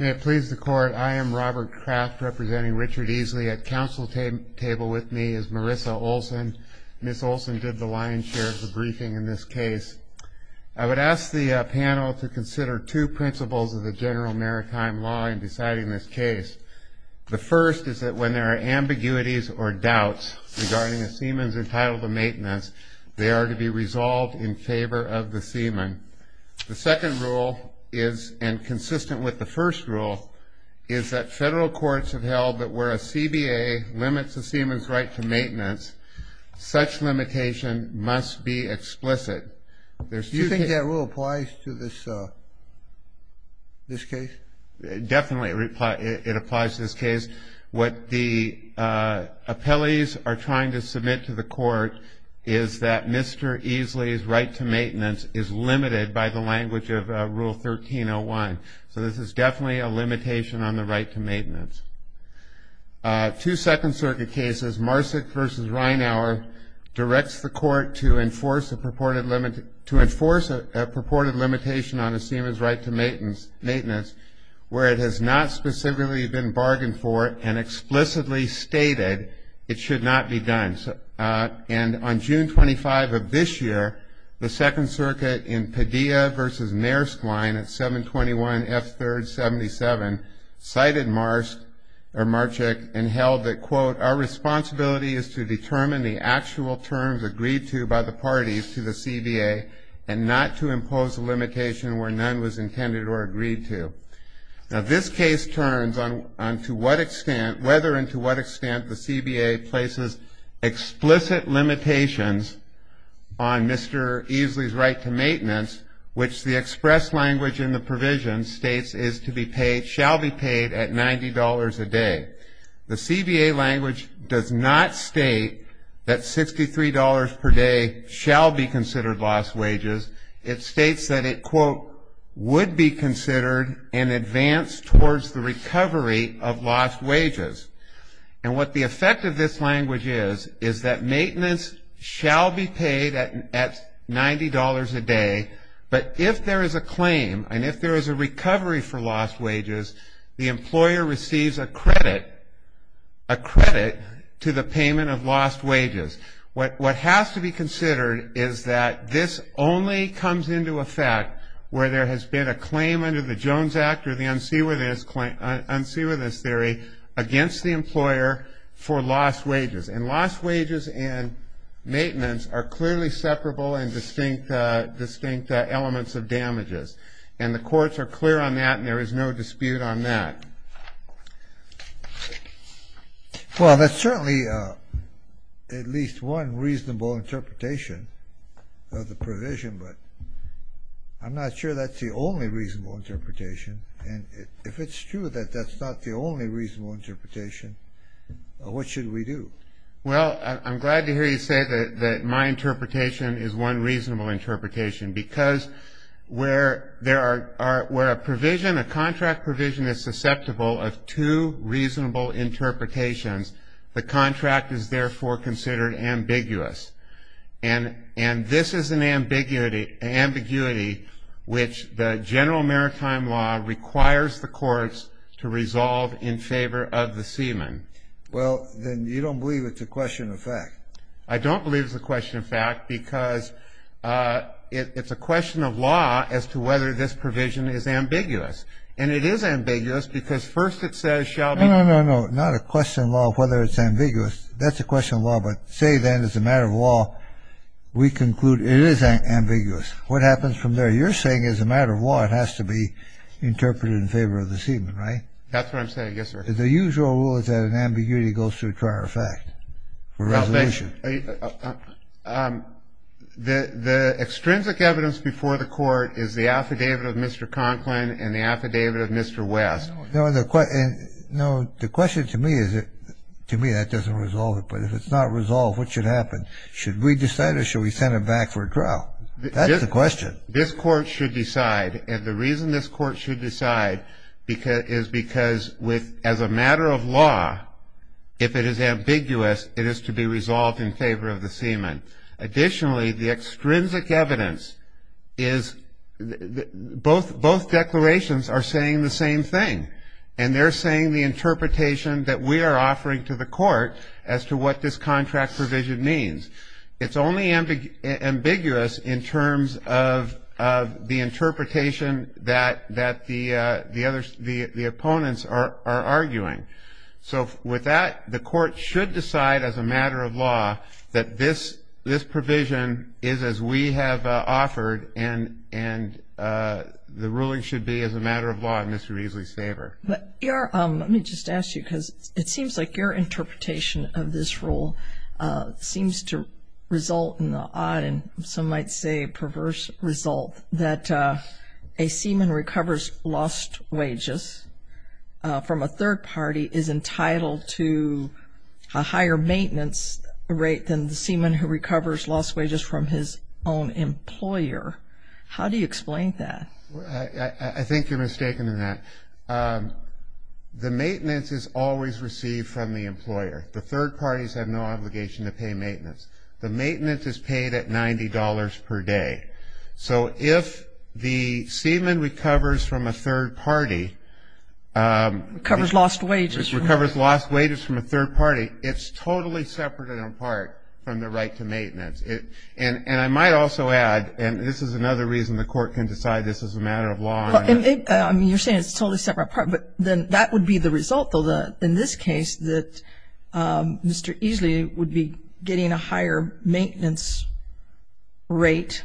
May it please the Court, I am Robert Kraft, representing Richard Easly at Council Table with me is Marissa Olson. Ms. Olson did the lion's share of the briefing in this case. I would ask the panel to consider two principles of the general maritime law in deciding this case. The first is that when there are ambiguities or doubts regarding a seaman's entitled to maintenance, they are to be resolved in favor of the seaman. The second rule is, and consistent with the first rule, is that federal courts have held that where a CBA limits a seaman's right to maintenance, such limitation must be explicit. Do you think that rule applies to this case? Definitely it applies to this case. What the appellees are trying to submit to the court is that Mr. Easly's right to maintenance is limited by the language of Rule 1301. So this is definitely a limitation on the right to maintenance. Two Second Circuit cases, Marsick v. Reinauer, directs the court to enforce a purported limitation on a seaman's right to maintenance where it has not specifically been bargained for and explicitly stated it should not be done. And on June 25 of this year, the Second Circuit in Padilla v. Maersk Line at 721 F3rd 77 cited Marsick and held that, quote, our responsibility is to determine the actual terms agreed to by the parties to the CBA and not to impose a limitation where none was intended or agreed to. Now, this case turns on to what extent, whether and to what extent, the CBA places explicit limitations on Mr. Easly's right to maintenance, which the express language in the provision states is to be paid, shall be paid at $90 a day. The CBA language does not state that $63 per day shall be considered lost wages. It states that it, quote, would be considered in advance towards the recovery of lost wages. And what the effect of this language is, is that maintenance shall be paid at $90 a day, but if there is a claim and if there is a recovery for lost wages, the employer receives a credit to the payment of lost wages. What has to be considered is that this only comes into effect where there has been a claim under the Jones Act or the unseaworthiness theory against the employer for lost wages. And lost wages and maintenance are clearly separable and distinct elements of damages. And the courts are clear on that and there is no dispute on that. Well, that's certainly at least one reasonable interpretation of the provision, but I'm not sure that's the only reasonable interpretation. And if it's true that that's not the only reasonable interpretation, what should we do? Well, I'm glad to hear you say that my interpretation is one reasonable interpretation because where a provision, a contract provision is susceptible of two reasonable interpretations, the contract is therefore considered ambiguous. And this is an ambiguity which the general maritime law requires the courts to resolve in favor of the seaman. Well, then you don't believe it's a question of fact. I don't believe it's a question of fact because it's a question of law as to whether this provision is ambiguous. And it is ambiguous because first it says shall be. No, no, no, no, not a question of law of whether it's ambiguous. That's a question of law, but say then as a matter of law we conclude it is ambiguous. What happens from there? You're saying as a matter of law it has to be interpreted in favor of the seaman, right? That's what I'm saying. Yes, sir. The usual rule is that an ambiguity goes through a trial of fact for resolution. The extrinsic evidence before the court is the affidavit of Mr. Conklin and the affidavit of Mr. West. No, the question to me is that to me that doesn't resolve it. But if it's not resolved, what should happen? Should we decide or should we send him back for a trial? That's the question. This court should decide, and the reason this court should decide is because as a matter of law, if it is ambiguous it is to be resolved in favor of the seaman. Additionally, the extrinsic evidence is both declarations are saying the same thing, and they're saying the interpretation that we are offering to the court as to what this contract provision means. It's only ambiguous in terms of the interpretation that the opponents are arguing. So with that, the court should decide as a matter of law that this provision is as we have offered and the ruling should be as a matter of law in Mr. Reesley's favor. Let me just ask you because it seems like your interpretation of this rule seems to result in the odd and some might say perverse result that a seaman recovers lost wages from a third party is entitled to a higher maintenance rate than the seaman who recovers lost wages from his own employer. How do you explain that? I think you're mistaken in that. The maintenance is always received from the employer. The third parties have no obligation to pay maintenance. The maintenance is paid at $90 per day. So if the seaman recovers from a third party. Recovers lost wages. Recovers lost wages from a third party, it's totally separate and apart from the right to maintenance. And I might also add, and this is another reason the court can decide this is a matter of law. I mean, you're saying it's totally separate and apart, but then that would be the result, though, in this case that Mr. Reesley would be getting a higher maintenance rate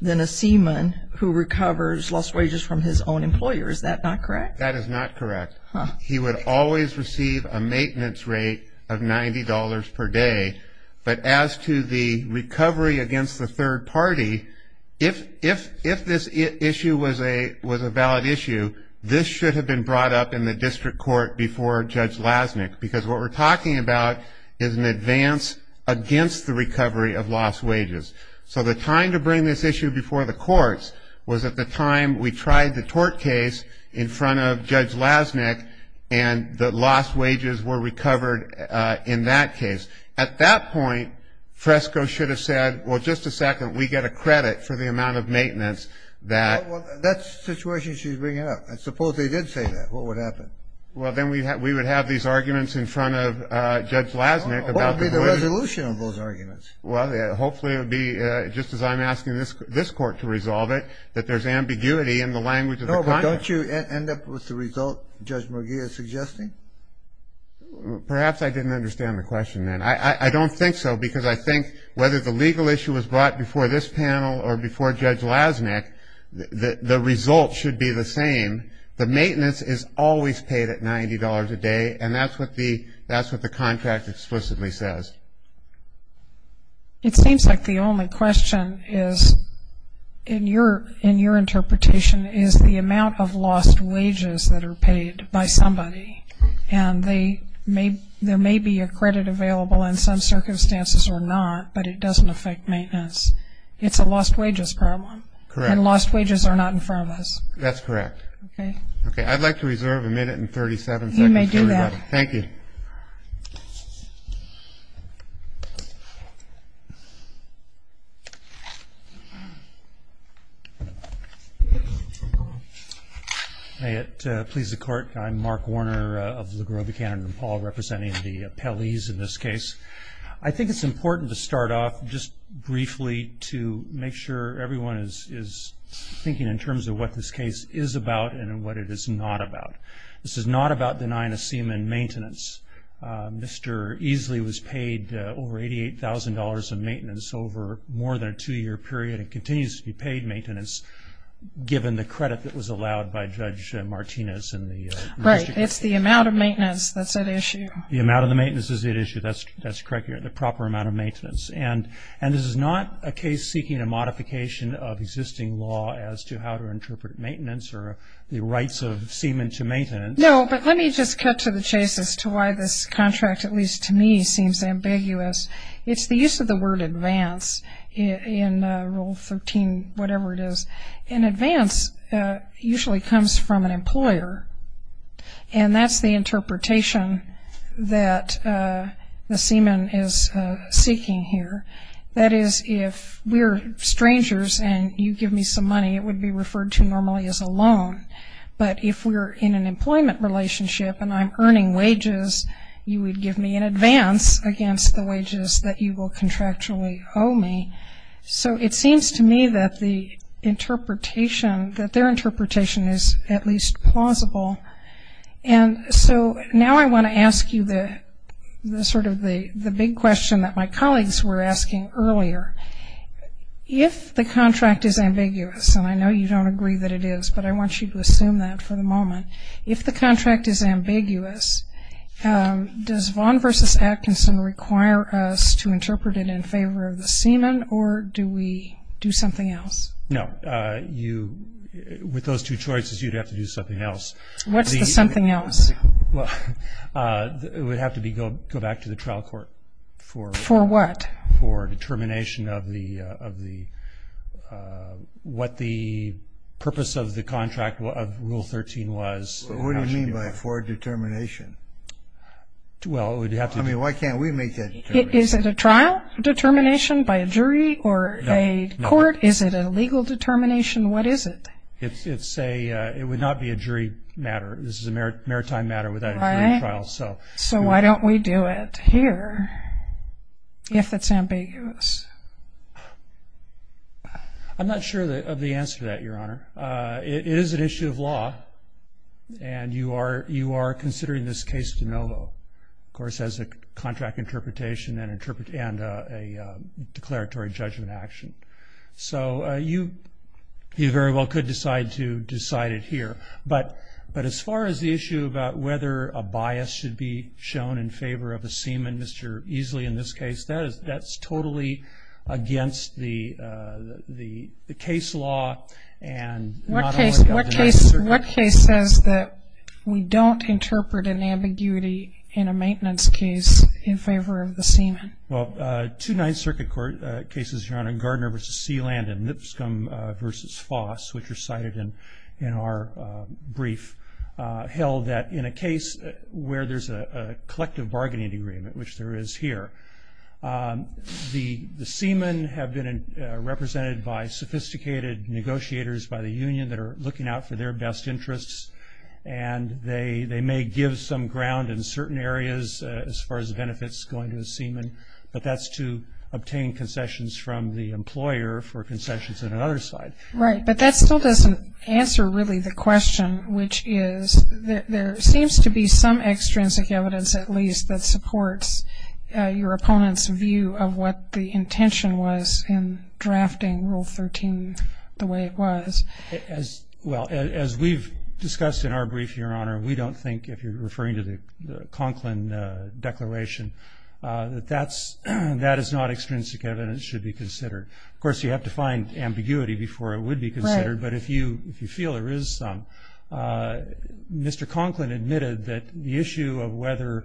than a seaman who recovers lost wages from his own employer. Is that not correct? That is not correct. He would always receive a maintenance rate of $90 per day. But as to the recovery against the third party, if this issue was a valid issue, this should have been brought up in the district court before Judge Lasnik, because what we're talking about is an advance against the recovery of lost wages. So the time to bring this issue before the courts was at the time we tried the tort case in front of Judge Lasnik and the lost wages were recovered in that case. At that point, Fresco should have said, well, just a second, we get a credit for the amount of maintenance that... Well, that's the situation she's bringing up. Suppose they did say that. What would happen? Well, then we would have these arguments in front of Judge Lasnik about... What would be the resolution of those arguments? Well, hopefully it would be, just as I'm asking this court to resolve it, that there's ambiguity in the language of the conduct. No, but don't you end up with the result Judge McGee is suggesting? Perhaps I didn't understand the question then. I don't think so, because I think whether the legal issue was brought before this panel or before Judge Lasnik, the result should be the same. The maintenance is always paid at $90 a day, and that's what the contract explicitly says. It seems like the only question is, in your interpretation, is the amount of lost wages that are paid by somebody, and there may be a credit available in some circumstances or not, but it doesn't affect maintenance. It's a lost wages problem. Correct. And lost wages are not in front of us. That's correct. Okay. Okay, I'd like to reserve a minute and 37 seconds. You may do that. Thank you. May it please the Court, I'm Mark Warner of LaGrobe, Canada, and Paul representing the appellees in this case. I think it's important to start off just briefly to make sure everyone is thinking in terms of what this case is about and what it is not about. This is not about denying a seaman maintenance. Mr. Easley was paid over $88,000 of maintenance over more than a two-year period and continues to be paid maintenance given the credit that was allowed by Judge Martinez. Right. It's the amount of maintenance that's at issue. The amount of the maintenance is at issue. That's correct. You're at the proper amount of maintenance. And this is not a case seeking a modification of existing law as to how to interpret maintenance or the rights of seamen to maintenance. No, but let me just cut to the chase as to why this contract, at least to me, seems ambiguous. It's the use of the word advance in Rule 13-whatever-it-is. And advance usually comes from an employer, and that's the interpretation that the seaman is seeking here. That is, if we're strangers and you give me some money, it would be referred to normally as a loan. But if we're in an employment relationship and I'm earning wages, you would give me an advance against the wages that you will contractually owe me. So it seems to me that their interpretation is at least plausible. And so now I want to ask you sort of the big question that my colleagues were asking earlier. If the contract is ambiguous, and I know you don't agree that it is, but I want you to assume that for the moment. If the contract is ambiguous, does Vaughn v. Atkinson require us to interpret it in favor of the seaman, or do we do something else? No. With those two choices, you'd have to do something else. What's the something else? It would have to go back to the trial court. For what? For determination of what the purpose of the contract of Rule 13 was. What do you mean by for determination? Why can't we make that determination? Is it a trial determination by a jury or a court? Is it a legal determination? What is it? It would not be a jury matter. This is a maritime matter without a jury trial. So why don't we do it here? If it's ambiguous. I'm not sure of the answer to that, Your Honor. It is an issue of law, and you are considering this case de novo, of course, as a contract interpretation and a declaratory judgment action. So you very well could decide to decide it here. But as far as the issue about whether a bias should be shown in favor of a seaman, Mr. Easley, in this case, that's totally against the case law. What case says that we don't interpret an ambiguity in a maintenance case in favor of the seaman? Well, two Ninth Circuit cases, Your Honor, Gardner v. Sealand and Nipscomb v. Foss, which are cited in our brief, held that in a case where there's a collective bargaining agreement, which there is here, the seamen have been represented by sophisticated negotiators by the union that are looking out for their best interests, and they may give some ground in certain areas as far as benefits going to a seaman, but that's to obtain concessions from the employer for concessions on another side. Right. But that still doesn't answer really the question, which is that there seems to be some extrinsic evidence at least that supports your opponent's view of what the intention was in drafting Rule 13 the way it was. Well, as we've discussed in our brief, Your Honor, we don't think, if you're referring to the Conklin Declaration, that that is not extrinsic evidence that should be considered. Of course, you have to find ambiguity before it would be considered. Right. But if you feel there is some, Mr. Conklin admitted that the issue of whether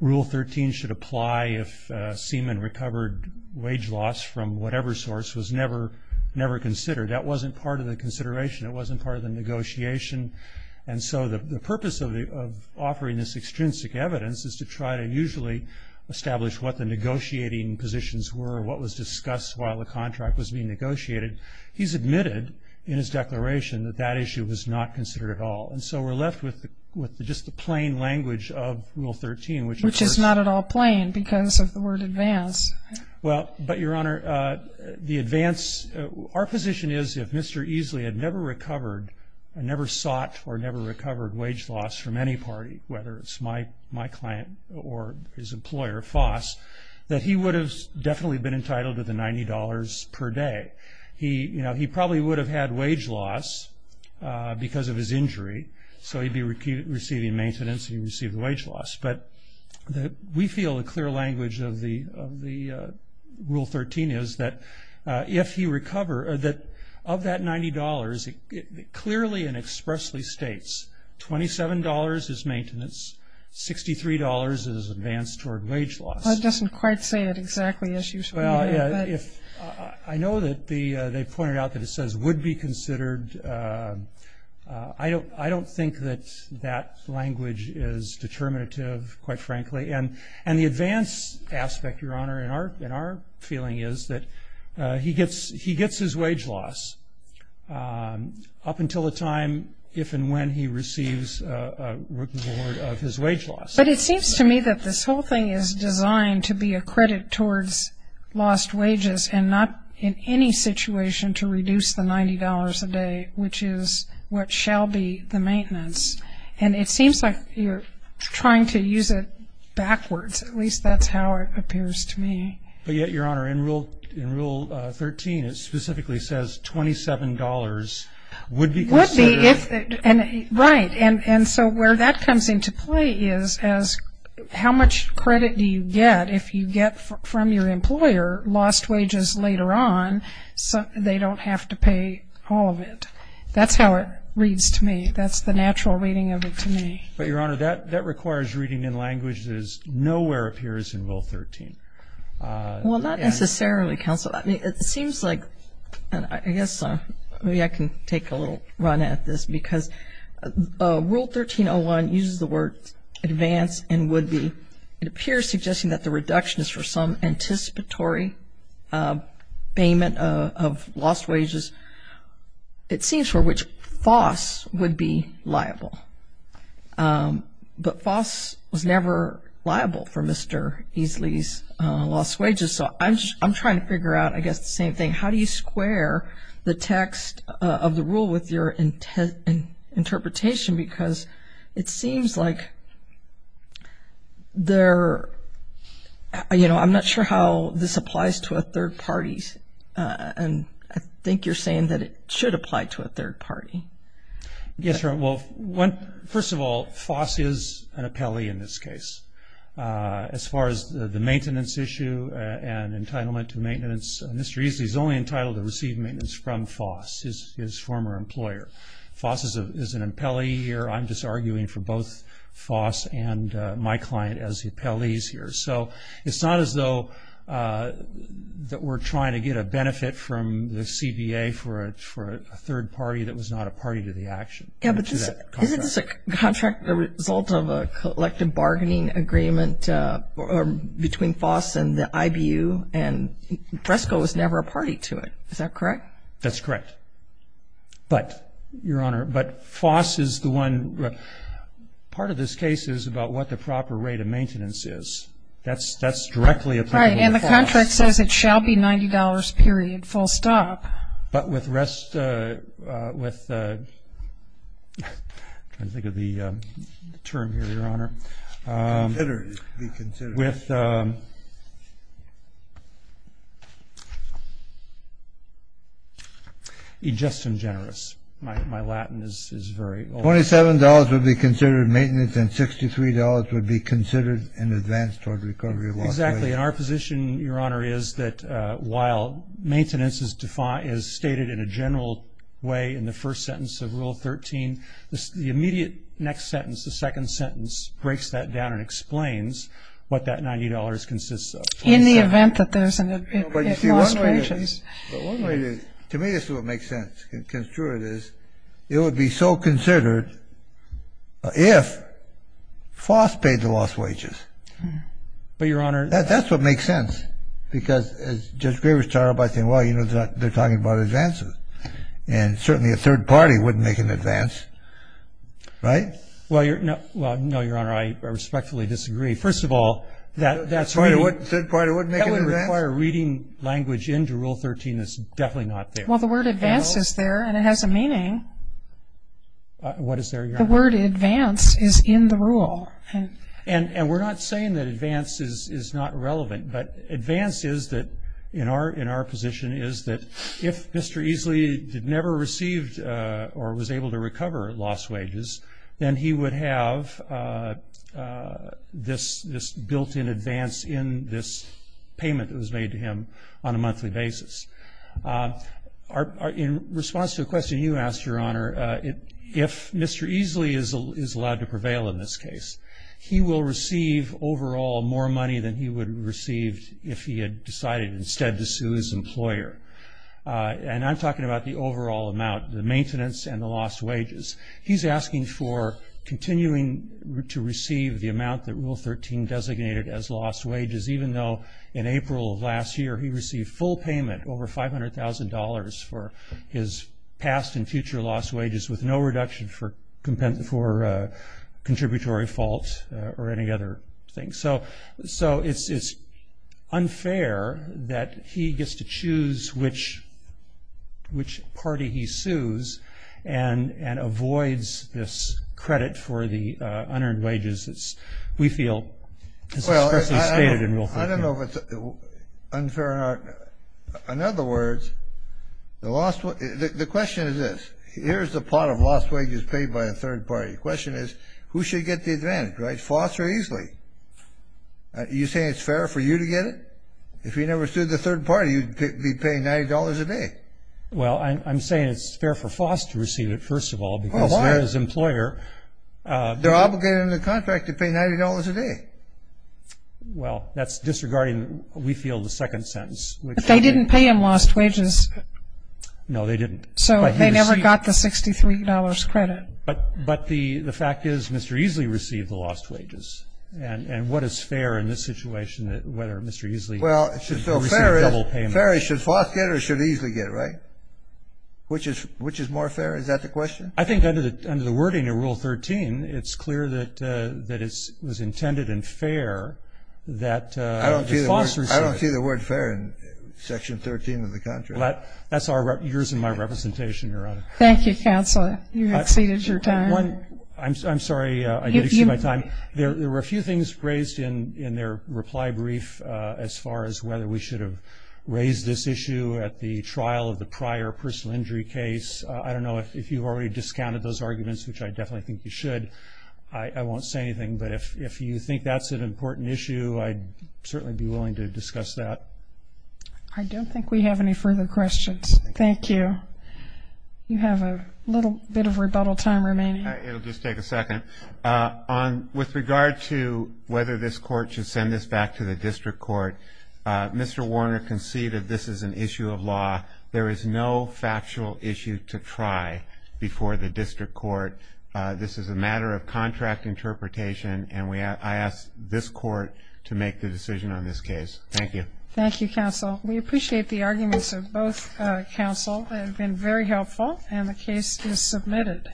Rule 13 should apply if a seaman recovered wage loss from whatever source was never considered. That wasn't part of the consideration. It wasn't part of the negotiation. And so the purpose of offering this extrinsic evidence is to try to usually establish what the negotiating positions were, what was discussed while the contract was being negotiated. He's admitted in his declaration that that issue was not considered at all. And so we're left with just the plain language of Rule 13. Which is not at all plain because of the word advance. Well, but, Your Honor, the advance, our position is if Mr. Easley had never recovered, never sought or never recovered wage loss from any party, whether it's my client or his employer, Foss, that he would have definitely been entitled to the $90 per day. He probably would have had wage loss because of his injury, so he'd be receiving maintenance and he'd receive the wage loss. But we feel the clear language of the Rule 13 is that if he recovered, that of that $90, it clearly and expressly states $27 is maintenance, $63 is advance toward wage loss. Well, it doesn't quite say it exactly as usual. Well, I know that they pointed out that it says would be considered. I don't think that that language is determinative, quite frankly. And the advance aspect, Your Honor, in our feeling is that he gets his wage loss up until the time if and when he receives a reward of his wage loss. But it seems to me that this whole thing is designed to be a credit towards lost wages and not in any situation to reduce the $90 a day, which is what shall be the maintenance. And it seems like you're trying to use it backwards. At least that's how it appears to me. But yet, Your Honor, in Rule 13 it specifically says $27 would be considered. Would be. Right. And so where that comes into play is how much credit do you get if you get from your employer lost wages later on, so they don't have to pay all of it. That's how it reads to me. That's the natural reading of it to me. But, Your Honor, that requires reading in languages nowhere appears in Rule 13. Well, not necessarily, Counsel. It seems like, and I guess maybe I can take a little run at this, because Rule 13.01 uses the words advance and would be. It appears suggesting that the reduction is for some anticipatory payment of lost wages. It seems for which FOS would be liable. But FOS was never liable for Mr. Easley's lost wages. So I'm trying to figure out, I guess, the same thing. How do you square the text of the rule with your interpretation? Because it seems like there, you know, I'm not sure how this applies to a third party. And I think you're saying that it should apply to a third party. Yes, Your Honor. Well, first of all, FOS is an appellee in this case. As far as the maintenance issue and entitlement to maintenance, Mr. Easley is only entitled to receive maintenance from FOS, his former employer. FOS is an appellee here. I'm just arguing for both FOS and my client as the appellees here. So it's not as though that we're trying to get a benefit from the CBA for a third party that was not a party to the action. Yeah, but isn't this a contract, the result of a collective bargaining agreement between FOS and the IBU? And Fresco was never a party to it. Is that correct? That's correct. But, Your Honor, but FOS is the one. Part of this case is about what the proper rate of maintenance is. That's directly applicable to FOS. The contract says it shall be $90.00, period, full stop. But with rest of the term here, Your Honor, with just and generous. My Latin is very old. $27.00 would be considered maintenance and $63.00 would be considered in advance toward recovery. Exactly. And our position, Your Honor, is that while maintenance is stated in a general way in the first sentence of Rule 13, the immediate next sentence, the second sentence, breaks that down and explains what that $90.00 consists of. In the event that there's lost wages. To me this is what makes sense. It would be so considered if FOS paid the lost wages. But, Your Honor. That's what makes sense. Because as Judge Graber started by saying, well, you know, they're talking about advances. And certainly a third party wouldn't make an advance, right? Well, no, Your Honor, I respectfully disagree. First of all, that's reading. A third party wouldn't make an advance? That would require reading language into Rule 13 that's definitely not there. Well, the word advance is there and it has a meaning. What is there, Your Honor? The word advance is in the rule. And we're not saying that advance is not relevant. But advance is that, in our position, is that if Mr. Easley never received or was able to recover lost wages, then he would have this built-in advance in this payment that was made to him on a monthly basis. In response to a question you asked, Your Honor, if Mr. Easley is allowed to prevail in this case, he will receive overall more money than he would have received if he had decided instead to sue his employer. And I'm talking about the overall amount, the maintenance and the lost wages. He's asking for continuing to receive the amount that Rule 13 designated as lost wages, even though in April of last year he received full payment, over $500,000, for his past and future lost wages with no reduction for contributory fault or any other thing. So it's unfair that he gets to choose which party he sues and avoids this credit for the unearned wages that we feel is expressly stated in Rule 13. Well, I don't know if it's unfair or not. In other words, the question is this. Here's the pot of lost wages paid by a third party. The question is, who should get the advantage, right? Foss or Easley? Are you saying it's fair for you to get it? If you never sued the third party, you'd be paying $90 a day. Well, I'm saying it's fair for Foss to receive it, first of all, because there is employer. They're obligated under the contract to pay $90 a day. Well, that's disregarding, we feel, the second sentence. But they didn't pay him lost wages. No, they didn't. So they never got the $63 credit. But the fact is Mr. Easley received the lost wages. And what is fair in this situation, whether Mr. Easley should receive double payment? Fair is should Foss get or should Easley get, right? Which is more fair? Is that the question? I think under the wording of Rule 13, it's clear that it was intended and fair that Foss receive it. I don't see the word fair in Section 13 of the contract. That's yours and my representation, Your Honor. Thank you, Counselor. You exceeded your time. I'm sorry. I did exceed my time. There were a few things raised in their reply brief as far as whether we should have raised this issue at the trial of the prior personal injury case. I don't know if you've already discounted those arguments, which I definitely think you should. I won't say anything. But if you think that's an important issue, I'd certainly be willing to discuss that. I don't think we have any further questions. Thank you. You have a little bit of rebuttal time remaining. It will just take a second. With regard to whether this court should send this back to the district court, Mr. Warner conceded this is an issue of law. There is no factual issue to try before the district court. This is a matter of contract interpretation, and I ask this court to make the decision on this case. Thank you. Thank you, Counsel. We appreciate the arguments of both counsel. They have been very helpful, and the case is submitted.